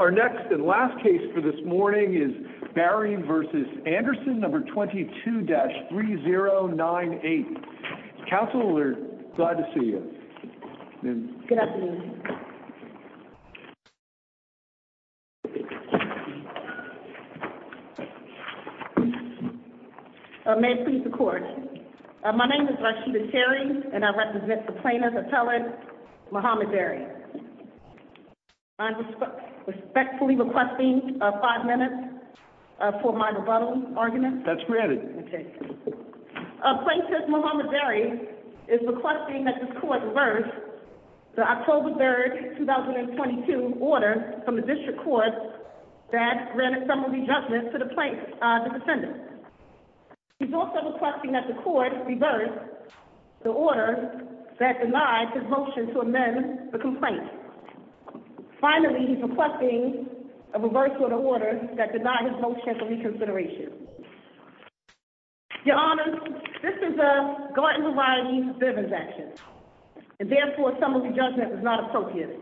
Our next and last case for this morning is Barry v. Anderson, No. 22-3098. Counsel, we're glad to see you. Good afternoon. May it please the Court. My name is Rashida Cherry, and I represent the plaintiff's appellant, Muhammad Barry. I'm respectfully requesting five minutes for my rebuttal argument. That's granted. Okay. Plaintiff Muhammad Barry is requesting that this Court reverse the October 3, 2022, order from the District Court that granted summary judgment to the defendant. He's also requesting that the Court reverse the order that denied his motion to amend the complaint. Finally, he's requesting a reversal of the order that denied his motion for reconsideration. Your Honor, this is a Gartner v. Bivens action, and therefore, summary judgment is not appropriate.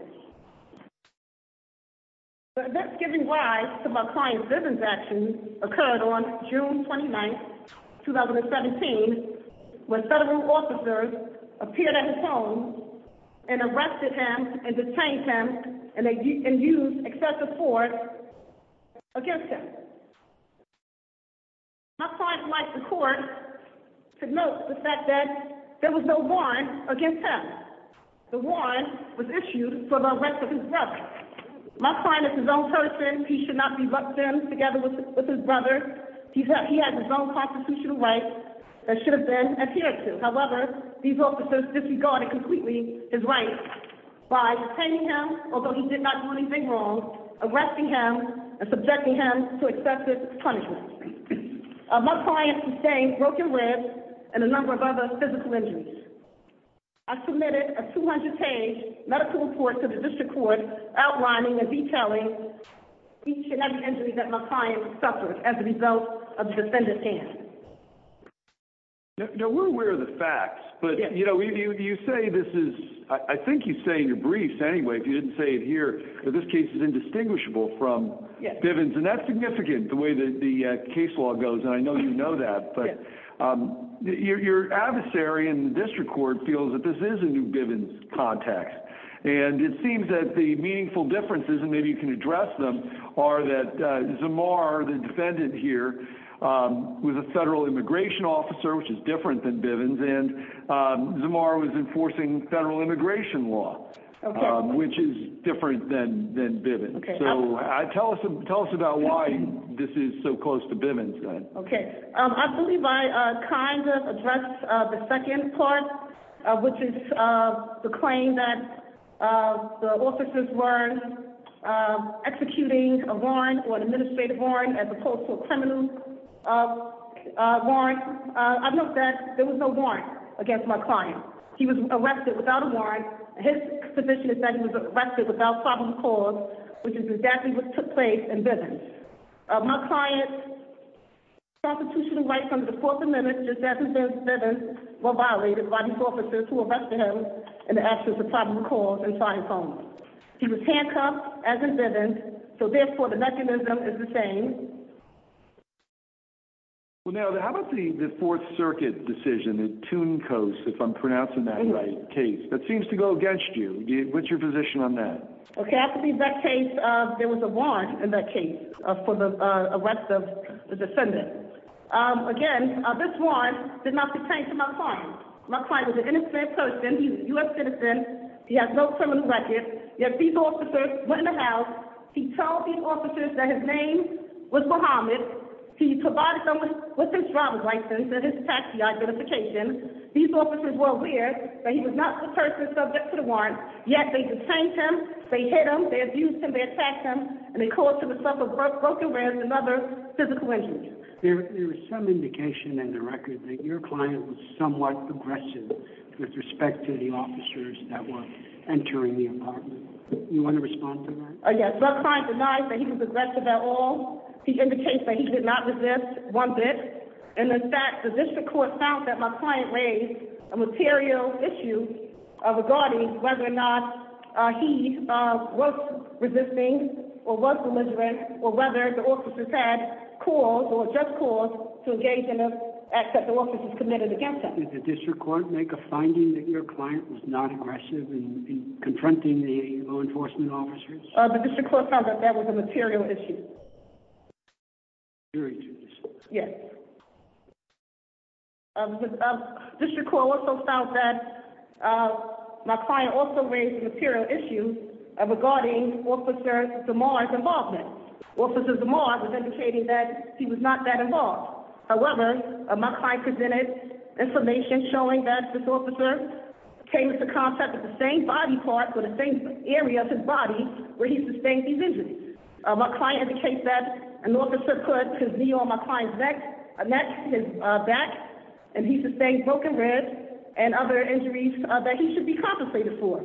The events giving rise to my client Bivens' action occurred on June 29, 2017, when federal officers appeared at his home and arrested him and detained him and used excessive force against him. My client would like the Court to note the fact that there was no warrant against him. The warrant was issued for the arrest of his brother. My client is his own person. He should not be locked in together with his brother. He has his own constitutional rights that should have been adhered to. However, these officers disregarded completely his rights by detaining him, although he did not do anything wrong, arresting him, and subjecting him to excessive punishment. My client sustained broken ribs and a number of other physical injuries. I submitted a 200-page medical report to the District Court outlining and detailing each and every injury that my client suffered as a result of the defendant's hands. Now, we're aware of the facts, but, you know, you say this is – I think you say in your briefs, anyway, if you didn't say it here, that this case is indistinguishable from Bivens'. And I know you know that, but your adversary in the District Court feels that this is a new Bivens' context. And it seems that the meaningful differences, and maybe you can address them, are that Zamar, the defendant here, was a federal immigration officer, which is different than Bivens'. And Zamar was enforcing federal immigration law, which is different than Bivens'. So, tell us about why this is so close to Bivens'. Okay. I believe I kind of addressed the second part, which is the claim that the officers were executing a warrant, or an administrative warrant, as opposed to a criminal warrant. I note that there was no warrant against my client. He was arrested without a warrant. His condition is that he was arrested without probable cause, which is exactly what took place in Bivens'. My client's constitutional rights under the Fourth Amendment, just as in Bivens', were violated by these officers who arrested him in the absence of probable cause and tried and found him. He was handcuffed, as in Bivens', so therefore the mechanism is the same. Well, now, how about the Fourth Circuit decision, the Toon Coast, if I'm pronouncing that right, case? That seems to go against you. What's your position on that? Okay. I believe that case, there was a warrant in that case for the arrest of the defendant. Again, this warrant did not pertain to my client. My client was an innocent person. He's a U.S. citizen. He has no criminal record. Yet these officers went in the house. He told these officers that his name was Muhammad. He provided them with his driver's license and his taxi identification. These officers were aware that he was not the person subject to the warrant. Yet they detained him, they hit him, they abused him, they attacked him, and they caused him to suffer broken ribs and other physical injuries. There is some indication in the record that your client was somewhat aggressive with respect to the officers that were entering the apartment. Do you want to respond to that? Yes. My client denies that he was aggressive at all. He indicates that he did not resist one bit. And in fact, the district court found that my client raised a material issue regarding whether or not he was resisting or was religious or whether the officers had cause or just cause to engage in an act that the officers committed against him. Did the district court make a finding that your client was not aggressive in confronting the law enforcement officers? The district court found that that was a material issue. Yes. The district court also found that my client also raised a material issue regarding Officer Zamar's involvement. Officer Zamar was indicating that he was not that involved. However, my client presented information showing that this officer came into contact with the same body parts or the same area of his body where he sustained these injuries. My client indicates that an officer put his knee on my client's neck, his back, and he sustained broken ribs and other injuries that he should be compensated for.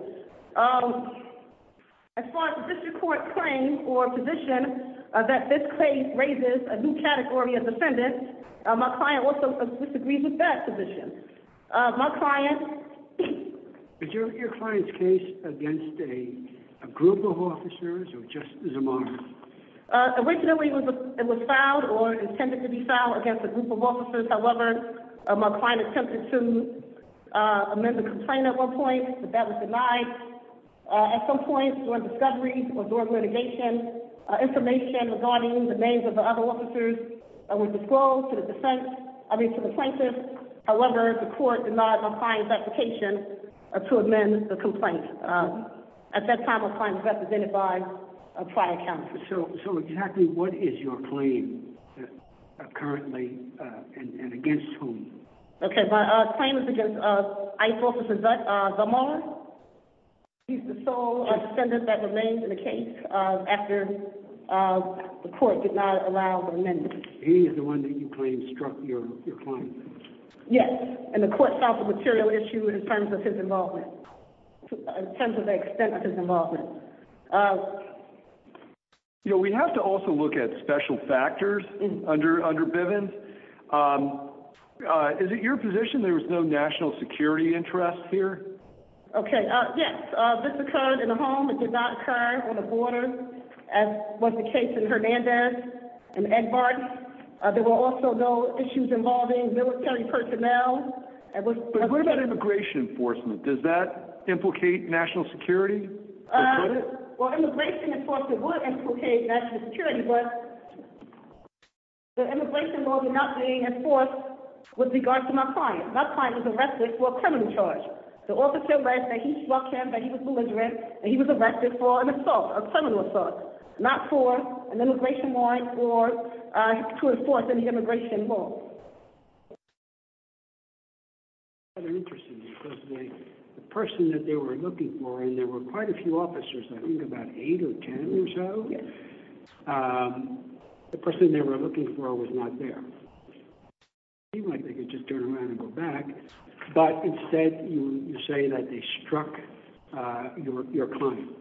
As far as the district court's claim or position that this case raises a new category of defendant, my client also disagrees with that position. Is your client's case against a group of officers or just Zamar? Originally, it was filed or intended to be filed against a group of officers. However, my client attempted to amend the complaint at one point, but that was denied. At some point, during discovery or during litigation, information regarding the names of the other officers were disclosed to the plaintiff. However, the court denied my client's application to amend the complaint. At that time, my client was represented by a prior counselor. So exactly what is your claim currently and against whom? Okay, my claim is against ICE Officer Zamar. He's the sole defendant that remains in the case after the court did not allow the amendment. He is the one that you claim struck your client? Yes, and the court found the material issue in terms of his involvement, in terms of the extent of his involvement. You know, we have to also look at special factors under Bivens. Is it your position there was no national security interest here? Okay, yes, this occurred in a home. It did not occur on the border, as was the case in Hernandez and Egbert. There were also no issues involving military personnel. But what about immigration enforcement? Does that implicate national security? Well, immigration enforcement would implicate national security, but the immigration law was not being enforced with regards to my client. My client was arrested for a criminal charge. The officer said that he struck him, that he was belligerent, and he was arrested for an assault, a criminal assault, not for an immigration warrant to enforce any immigration law. That's interesting because the person that they were looking for, and there were quite a few officers, I think about eight or ten or so, the person they were looking for was not there. It seemed like they could just turn around and go back, but instead you say that they struck your client.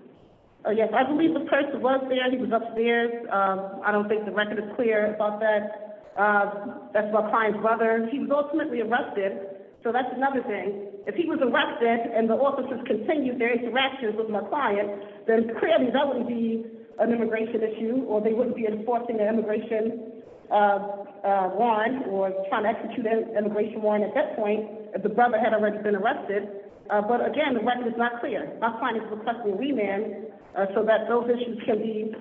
Yes, I believe the person was there. He was upstairs. I don't think the record is clear about that. That's my client's brother. He was ultimately arrested, so that's another thing. If he was arrested and the officers continued their interactions with my client, then clearly that would be an immigration issue, or they wouldn't be enforcing an immigration warrant or trying to execute an immigration warrant at that point if the brother had already been arrested. But, again, the record is not clear. My client is requesting a remand so that those issues can be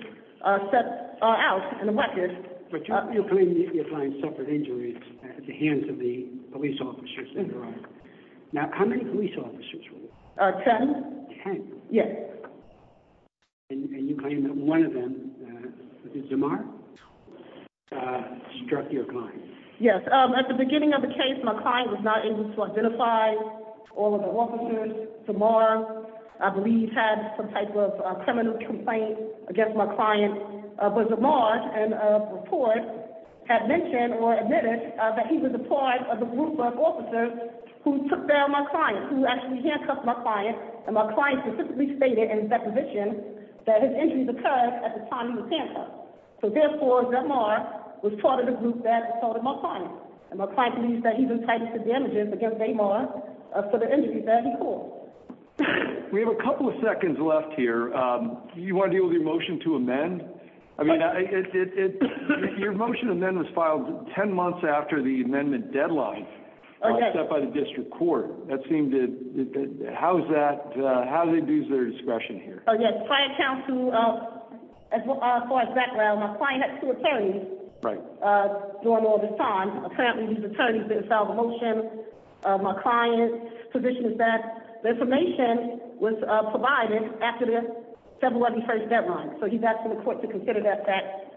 set out in the record. But your client suffered injuries at the hands of the police officers. That's right. Now, how many police officers were there? Ten. Ten? Yes. And you claim that one of them, Jamar, struck your client. Yes. At the beginning of the case, my client was not able to identify all of the officers. Jamar, I believe, had some type of criminal complaint against my client. But Jamar, in a report, had mentioned or admitted that he was a part of the group of officers who took down my client, who actually handcuffed my client. And my client specifically stated in his deposition that his injuries occurred at the time he was handcuffed. So, therefore, Jamar was part of the group that assaulted my client. And my client believes that he's entitled to damages against Jamar for the injuries that he caused. We have a couple of seconds left here. Do you want to deal with your motion to amend? I mean, your motion to amend was filed ten months after the amendment deadline, except by the district court. That seemed to – how is that – how did they lose their discretion here? Oh, yes. I account to, as far as background, my client had two attorneys. Right. During all this time. Apparently, these attorneys didn't file the motion. My client's position is that the information was provided after the February 1 deadline. So he's asking the court to consider that fact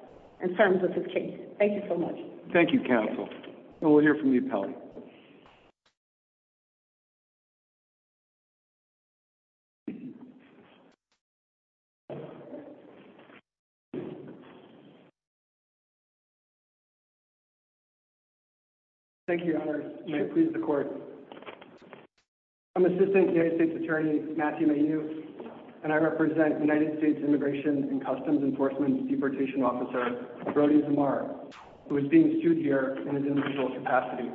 in terms of his case. Thank you so much. Thank you, counsel. And we'll hear from the appellate. Thank you, Your Honor. May it please the court. I'm Assistant United States Attorney Matthew Mayhew, and I represent United States Immigration and Customs Enforcement Deportation Officer Brody Jamar, who is being sued here in his individual capacity.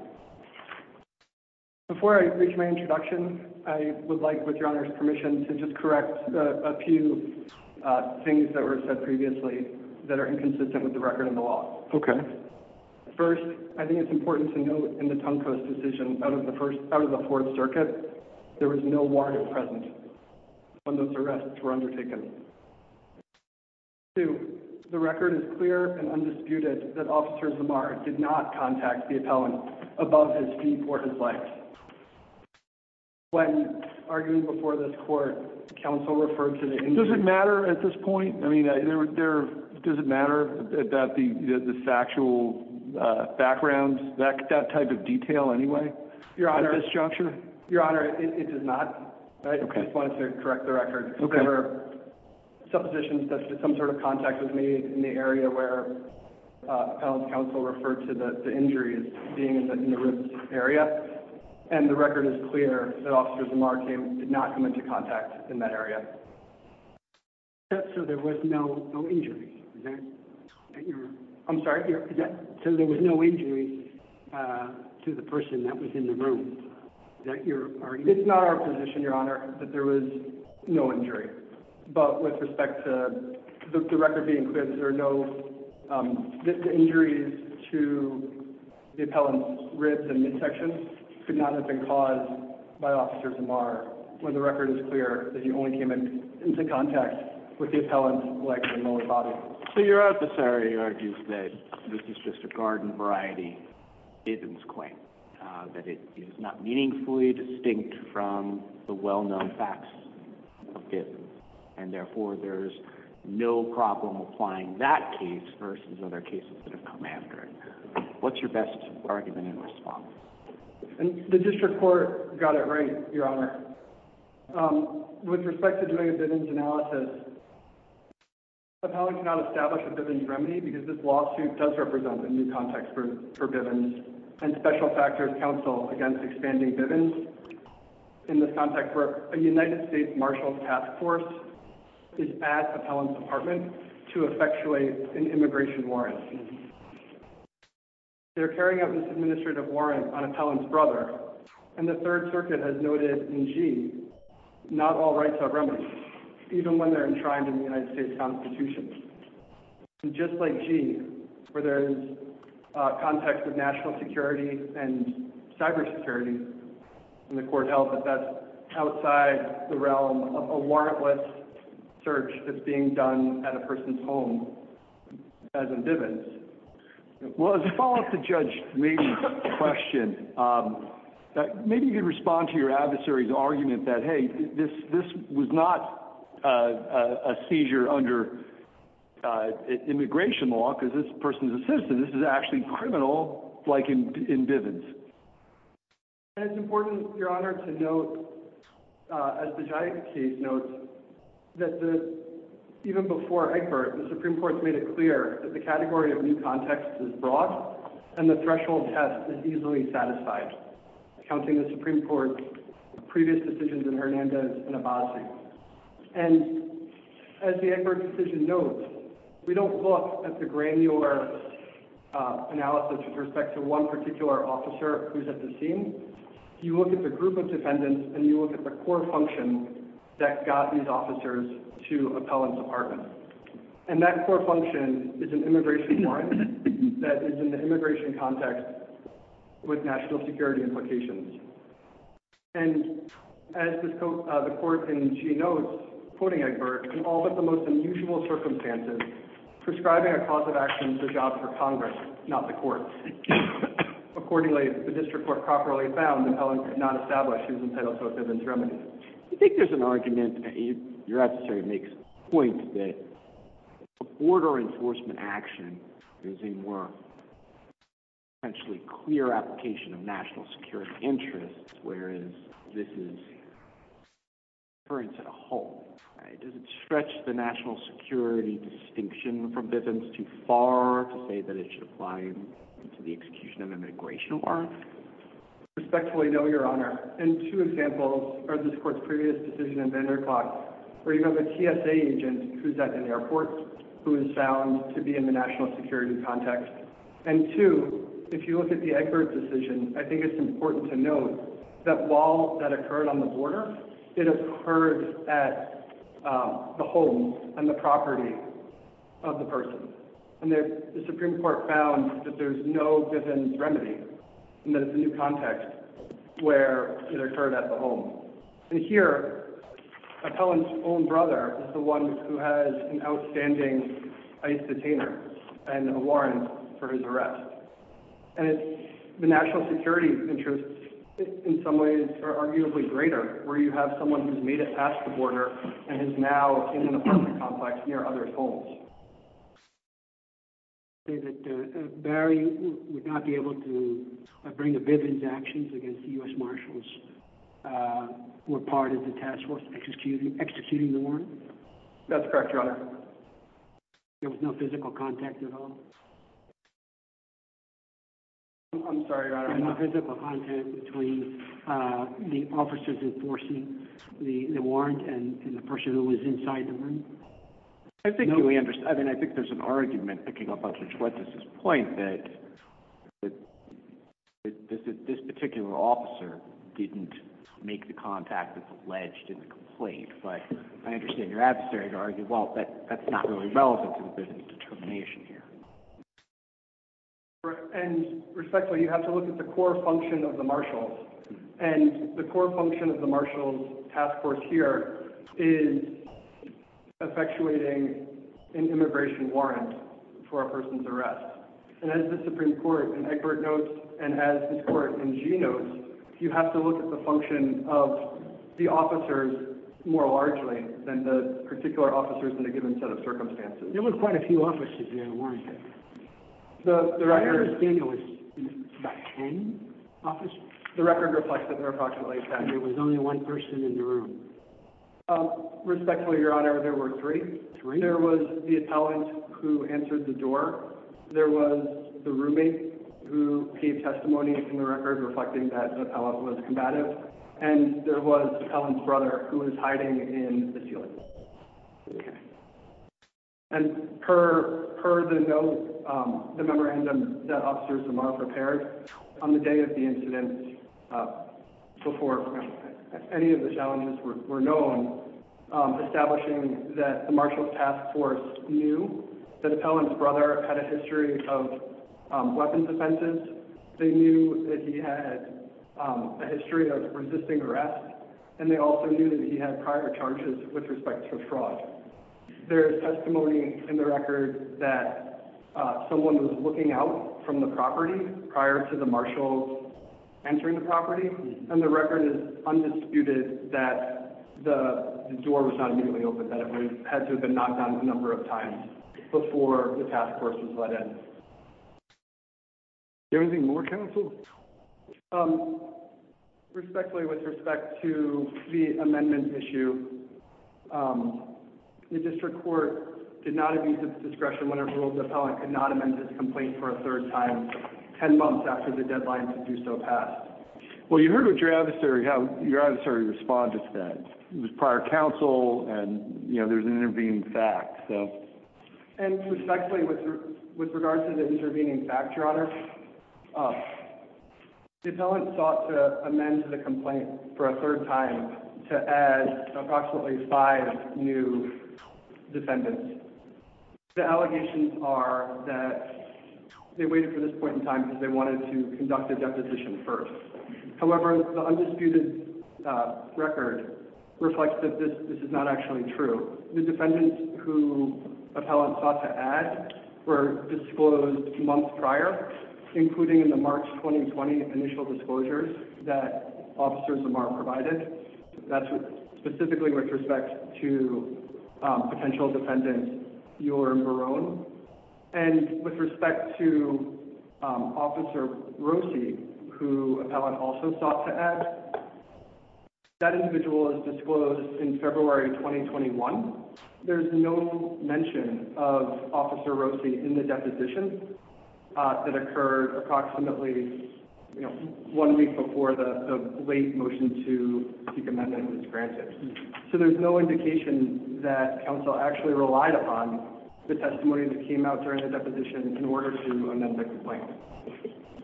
Before I reach my introduction, I would like, with Your Honor's permission, to just correct a few things that were said previously that are inconsistent with the record in the law. Okay. First, I think it's important to note in the Tungco's decision out of the Fourth Circuit, there was no warrant present when those arrests were undertaken. Two, the record is clear and undisputed that Officer Jamar did not contact the appellant above his fee for his life. When arguing before this court, counsel referred to the injury. Does it matter at this point? I mean, does it matter that the factual background, that type of detail anyway, at this juncture? Your Honor, it does not. Okay. I just wanted to correct the record. Okay. There were suppositions that some sort of contact was made in the area where appellant's counsel referred to the injuries being in the room area, and the record is clear that Officer Jamar did not come into contact in that area. So there was no injury? I'm sorry? So there was no injury to the person that was in the room? It's not our position, Your Honor, that there was no injury. But with respect to the record being clear, the injuries to the appellant's ribs and midsection could not have been caused by Officer Jamar when the record is clear that he only came into contact with the appellant's legs and lower body. So your office already argues that this is just a garden variety bivens claim, that it is not meaningfully distinct from the well-known facts of bivens, and therefore there's no problem applying that case versus other cases that have come after it. What's your best argument in response? The district court got it right, Your Honor. With respect to doing a bivens analysis, the appellant cannot establish a bivens remedy because this lawsuit does represent a new context for bivens and special factors counsel against expanding bivens in this context where a United States Marshals Task Force is at the appellant's department to effectuate an immigration warrant. They're carrying out this administrative warrant on an appellant's brother, and the Third Circuit has noted in G, not all rights are remedies, even when they're enshrined in the United States Constitution. And just like G, where there's a context of national security and cyber security, and the court held that that's outside the realm of a warrantless search that's being done at a person's home as in bivens. Well, as a follow-up to Judge Mead's question, maybe you could respond to your adversary's argument that, hey, this was not a seizure under immigration law because this person's a citizen. This is actually criminal like in bivens. And it's important, Your Honor, to note, as the Giacchi case notes, that even before Egbert, the Supreme Court made it clear that the category of new context is broad and the threshold test is easily satisfied, counting the Supreme Court's previous decisions in Hernandez and Abbasi. And as the Egbert decision notes, we don't look at the granular analysis with respect to one particular officer who's at the scene. You look at the group of defendants and you look at the core function that got these officers to appellants' apartments. And that core function is an immigration warrant that is in the immigration context with national security implications. And as the court in G notes, quoting Egbert, in all but the most unusual circumstances, prescribing a cause of action is a job for Congress, not the courts. Accordingly, the district court properly found the appellant could not establish he was entitled to a bivens remedy. You think there's an argument, Your Honor, to make a point that border enforcement action is a more potentially clear application of national security interests, whereas this is interference at home. Does it stretch the national security distinction from bivens too far to say that it should apply to the execution of an immigration warrant? Respectfully, no, Your Honor. And two examples are this court's previous decision in Vanderclaes, where you have a TSA agent who's at an airport who is found to be in the national security context. And two, if you look at the Egbert decision, I think it's important to note that while that occurred on the border, it occurred at the home and the property of the person. And the Supreme Court found that there's no bivens remedy and that it's a new context where it occurred at the home. And here, appellant's own brother is the one who has an outstanding ICE detainer and a warrant for his arrest. And the national security interests in some ways are arguably greater, where you have someone who's made it past the border and is now in an apartment complex near others' homes. You say that Barry would not be able to bring the bivens actions against the U.S. Marshals who were part of the task force executing the warrant? That's correct, Your Honor. There was no physical contact at all? I'm sorry, Your Honor. There was no physical contact between the officers enforcing the warrant and the person who was inside the room? I think there's an argument, picking up on Judge Wetzler's point, that this particular officer didn't make the contact that's alleged in the complaint. But I understand your adversary to argue, well, that's not really relevant to the bivens determination here. And respectfully, you have to look at the core function of the Marshals. And the core function of the Marshals' task force here is effectuating an immigration warrant for a person's arrest. And as the Supreme Court in Eckert notes, and as this Court in Gee notes, you have to look at the function of the officers more largely than the particular officers in a given set of circumstances. There were quite a few officers in that warrant. I understand there was about ten officers? The record reflects that there were approximately ten. There was only one person in the room? Respectfully, Your Honor, there were three. There was the attendant who answered the door. There was the roommate who gave testimony in the record reflecting that the appellant was combative. And there was the appellant's brother who was hiding in the ceiling. Okay. And per the note, the memorandum that officers tomorrow prepared, on the day of the incident, before any of the challenges were known, establishing that the Marshals' task force knew that the appellant's brother had a history of weapons offenses, they knew that he had a history of resisting arrest, and they also knew that he had prior charges with respect to fraud. There is testimony in the record that someone was looking out from the property prior to the Marshals' entering the property, and the record is undisputed that the door was not immediately opened, that it had to have been knocked on a number of times before the task force was let in. Is there anything more, counsel? Respectfully, with respect to the amendment issue, the district court did not abuse its discretion when it ruled the appellant could not amend his complaint for a third time ten months after the deadline to do so passed. Well, you heard how your adversary responded to that. It was prior counsel, and there's an intervening fact. And respectfully, with regard to the intervening fact, Your Honor, the appellant sought to amend the complaint for a third time to add approximately five new defendants. The allegations are that they waited for this point in time because they wanted to conduct a deposition first. However, the undisputed record reflects that this is not actually true. The defendants who appellants sought to add were disclosed months prior, including in the March 2020 initial disclosures that Officers Lamar provided. That's specifically with respect to potential defendants Euler and Barone. And with respect to Officer Rossi, who appellant also sought to add, that individual is disclosed in February 2021. There's no mention of Officer Rossi in the deposition that occurred approximately, you know, one week before the late motion to seek amendment was granted. So there's no indication that counsel actually relied upon the testimony that came out during the deposition in order to amend the complaint.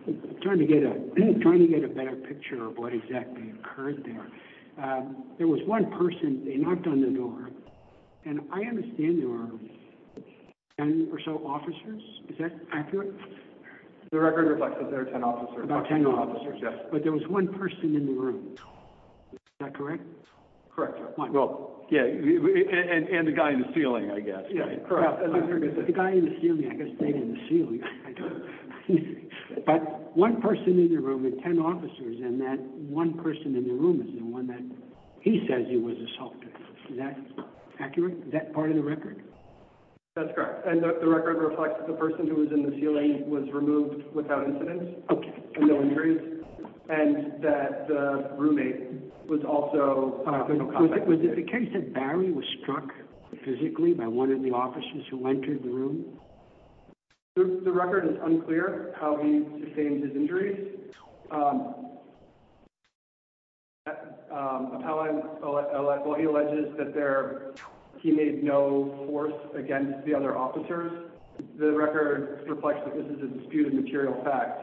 I'm trying to get a better picture of what exactly occurred there. There was one person, they knocked on the door, and I understand there were 10 or so officers. Is that accurate? The record reflects that there were 10 officers. About 10 officers. But there was one person in the room. Is that correct? Correct. And the guy in the ceiling, I guess. The guy in the ceiling, I guess they were in the ceiling. But one person in the room with 10 officers, and that one person in the room is the one that he says he was assaulted. Is that accurate? Is that part of the record? That's correct. And the record reflects that the person who was in the ceiling was removed without incident. Okay. No injuries. And that the roommate was also. Was it the case that Barry was struck physically by one of the officers who entered the room? Well, he alleges that he made no force against the other officers. The record reflects that this is a disputed material fact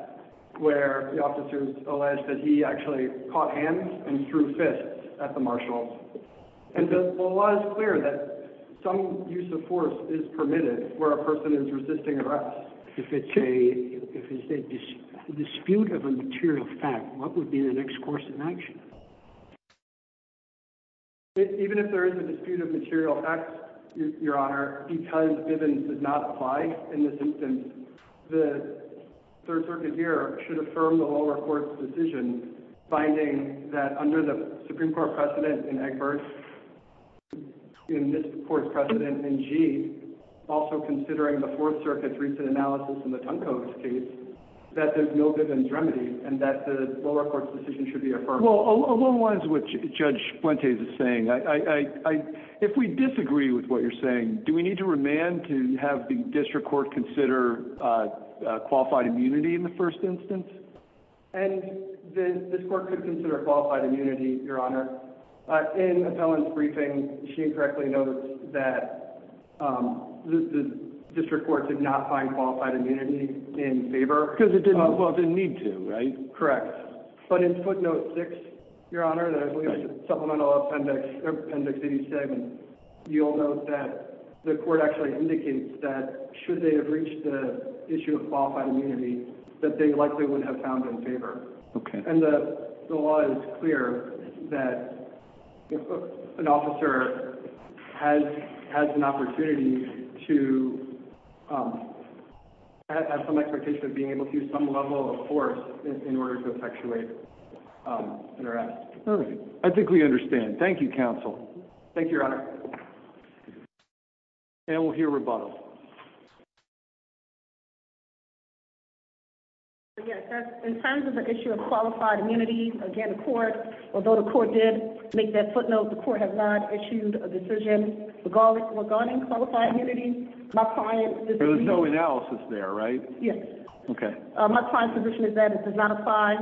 where the officers allege that he actually caught hands and threw fists at the marshals. And the law is clear that some use of force is permitted where a person is resisting arrest. If it's a dispute of a material fact, what would be the next course of action? Even if there is a dispute of material facts, Your Honor, because Bivens did not apply in this instance, the Third Circuit here should affirm the lower court's decision, finding that under the Supreme Court precedent in Eckford, in this court's precedent in Gee, also considering the Fourth Circuit's recent analysis in the Tunko's case, that there's no Bivens remedy and that the lower court's decision should be affirmed. Well, along lines of what Judge Fuentes is saying, if we disagree with what you're saying, do we need to remand to have the district court consider qualified immunity in the first instance? And this court could consider qualified immunity, Your Honor. In Appellant's briefing, she correctly notes that the district court did not find qualified immunity in favor. Because it didn't need to, right? Correct. But in footnote 6, Your Honor, the supplemental appendix 87, you'll note that the court actually indicates that should they have reached the issue of qualified immunity, that they likely would have found in favor. And the law is clear that an officer has an opportunity to have some expectation of being able to use some level of force in order to effectuate an arrest. I think we understand. Thank you, counsel. Thank you, Your Honor. And we'll hear rebuttal. In terms of the issue of qualified immunity, again, the court, although the court did make that footnote, the court has not issued a decision regarding qualified immunity. There was no analysis there, right? Yes. Okay. My client's position is that it does not apply.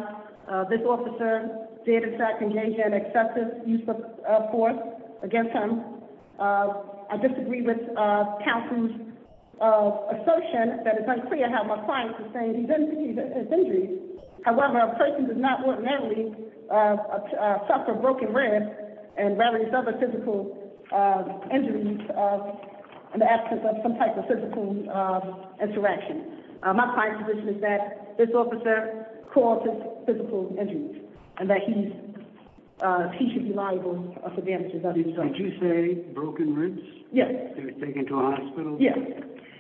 This officer did, in fact, engage in excessive use of force against him. I disagree with counsel's assertion that it's unclear how my client sustained these injuries. However, a person does not ordinarily suffer broken ribs and various other physical injuries in the absence of some type of physical interaction. My client's position is that this officer caused his physical injuries and that he should be liable for damages of his own. Did you say broken ribs? Yes. They were taken to a hospital? Yes.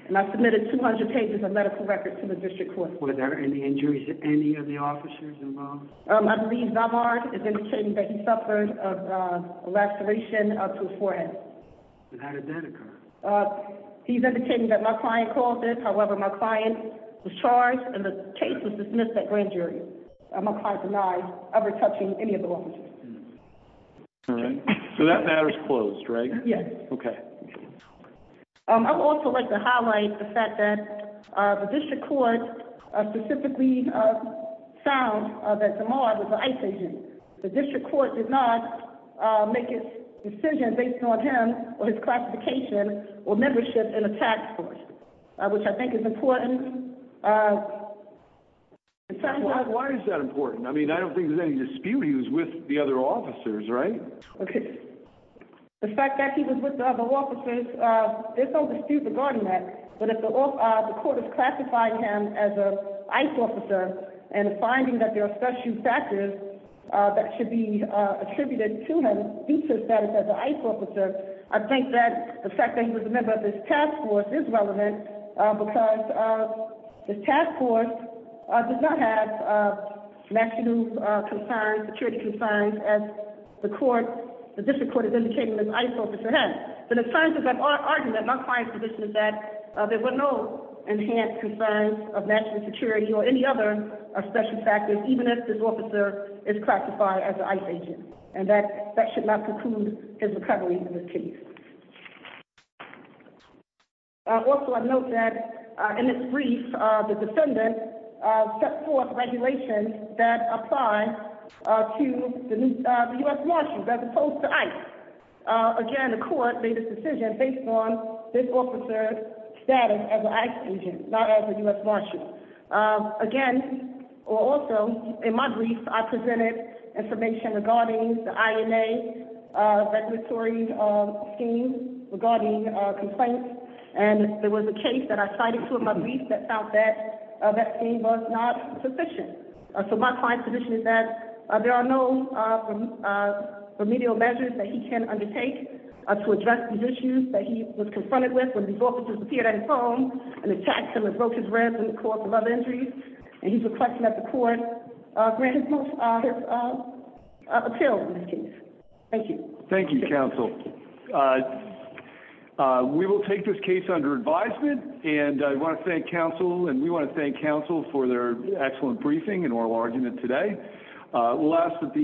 And I submitted 200 pages of medical records to the district court. Were there any injuries to any of the officers involved? I believe Damar is indicating that he suffered a laceration to his forehead. And how did that occur? He's indicating that my client caused it. However, my client was charged and the case was dismissed at grand jury. My client denied ever touching any of the officers. All right. So that matter's closed, right? Yes. Okay. I would also like to highlight the fact that the district court specifically found that Damar was a ICE agent. The district court did not make a decision based on him or his classification or membership in a tax court, which I think is important. Why is that important? I mean, I don't think there's any dispute he was with the other officers, right? Okay. The fact that he was with the other officers, there's no dispute regarding that. But if the court is classifying him as an ICE officer and finding that there are special factors that should be attributed to him due to his status as an ICE officer, I think that the fact that he was a member of this task force is relevant because this task force does not have national security concerns as the district court is indicating this ICE officer has. But in terms of that argument, my client's position is that there were no enhanced concerns of national security or any other special factors, even if this officer is classified as an ICE agent. And that should not preclude his recovery in this case. Also, I note that in this brief, the defendant set forth regulations that apply to the U.S. Marshals as opposed to ICE. Again, the court made this decision based on this officer's status as an ICE agent, not as a U.S. Marshal. Again, or also, in my brief, I presented information regarding the INA regulatory scheme regarding complaints. And there was a case that I cited to in my brief that found that that scheme was not sufficient. So my client's position is that there are no remedial measures that he can undertake to address the issues that he was confronted with when these officers appeared at his home and attacked him and broke his ribs and caused him other injuries. And he's requesting that the court grant his appeal in this case. Thank you. Thank you, counsel. We will take this case under advisement. And I want to thank counsel and we want to thank counsel for their excellent briefing and oral argument today. We'll ask that the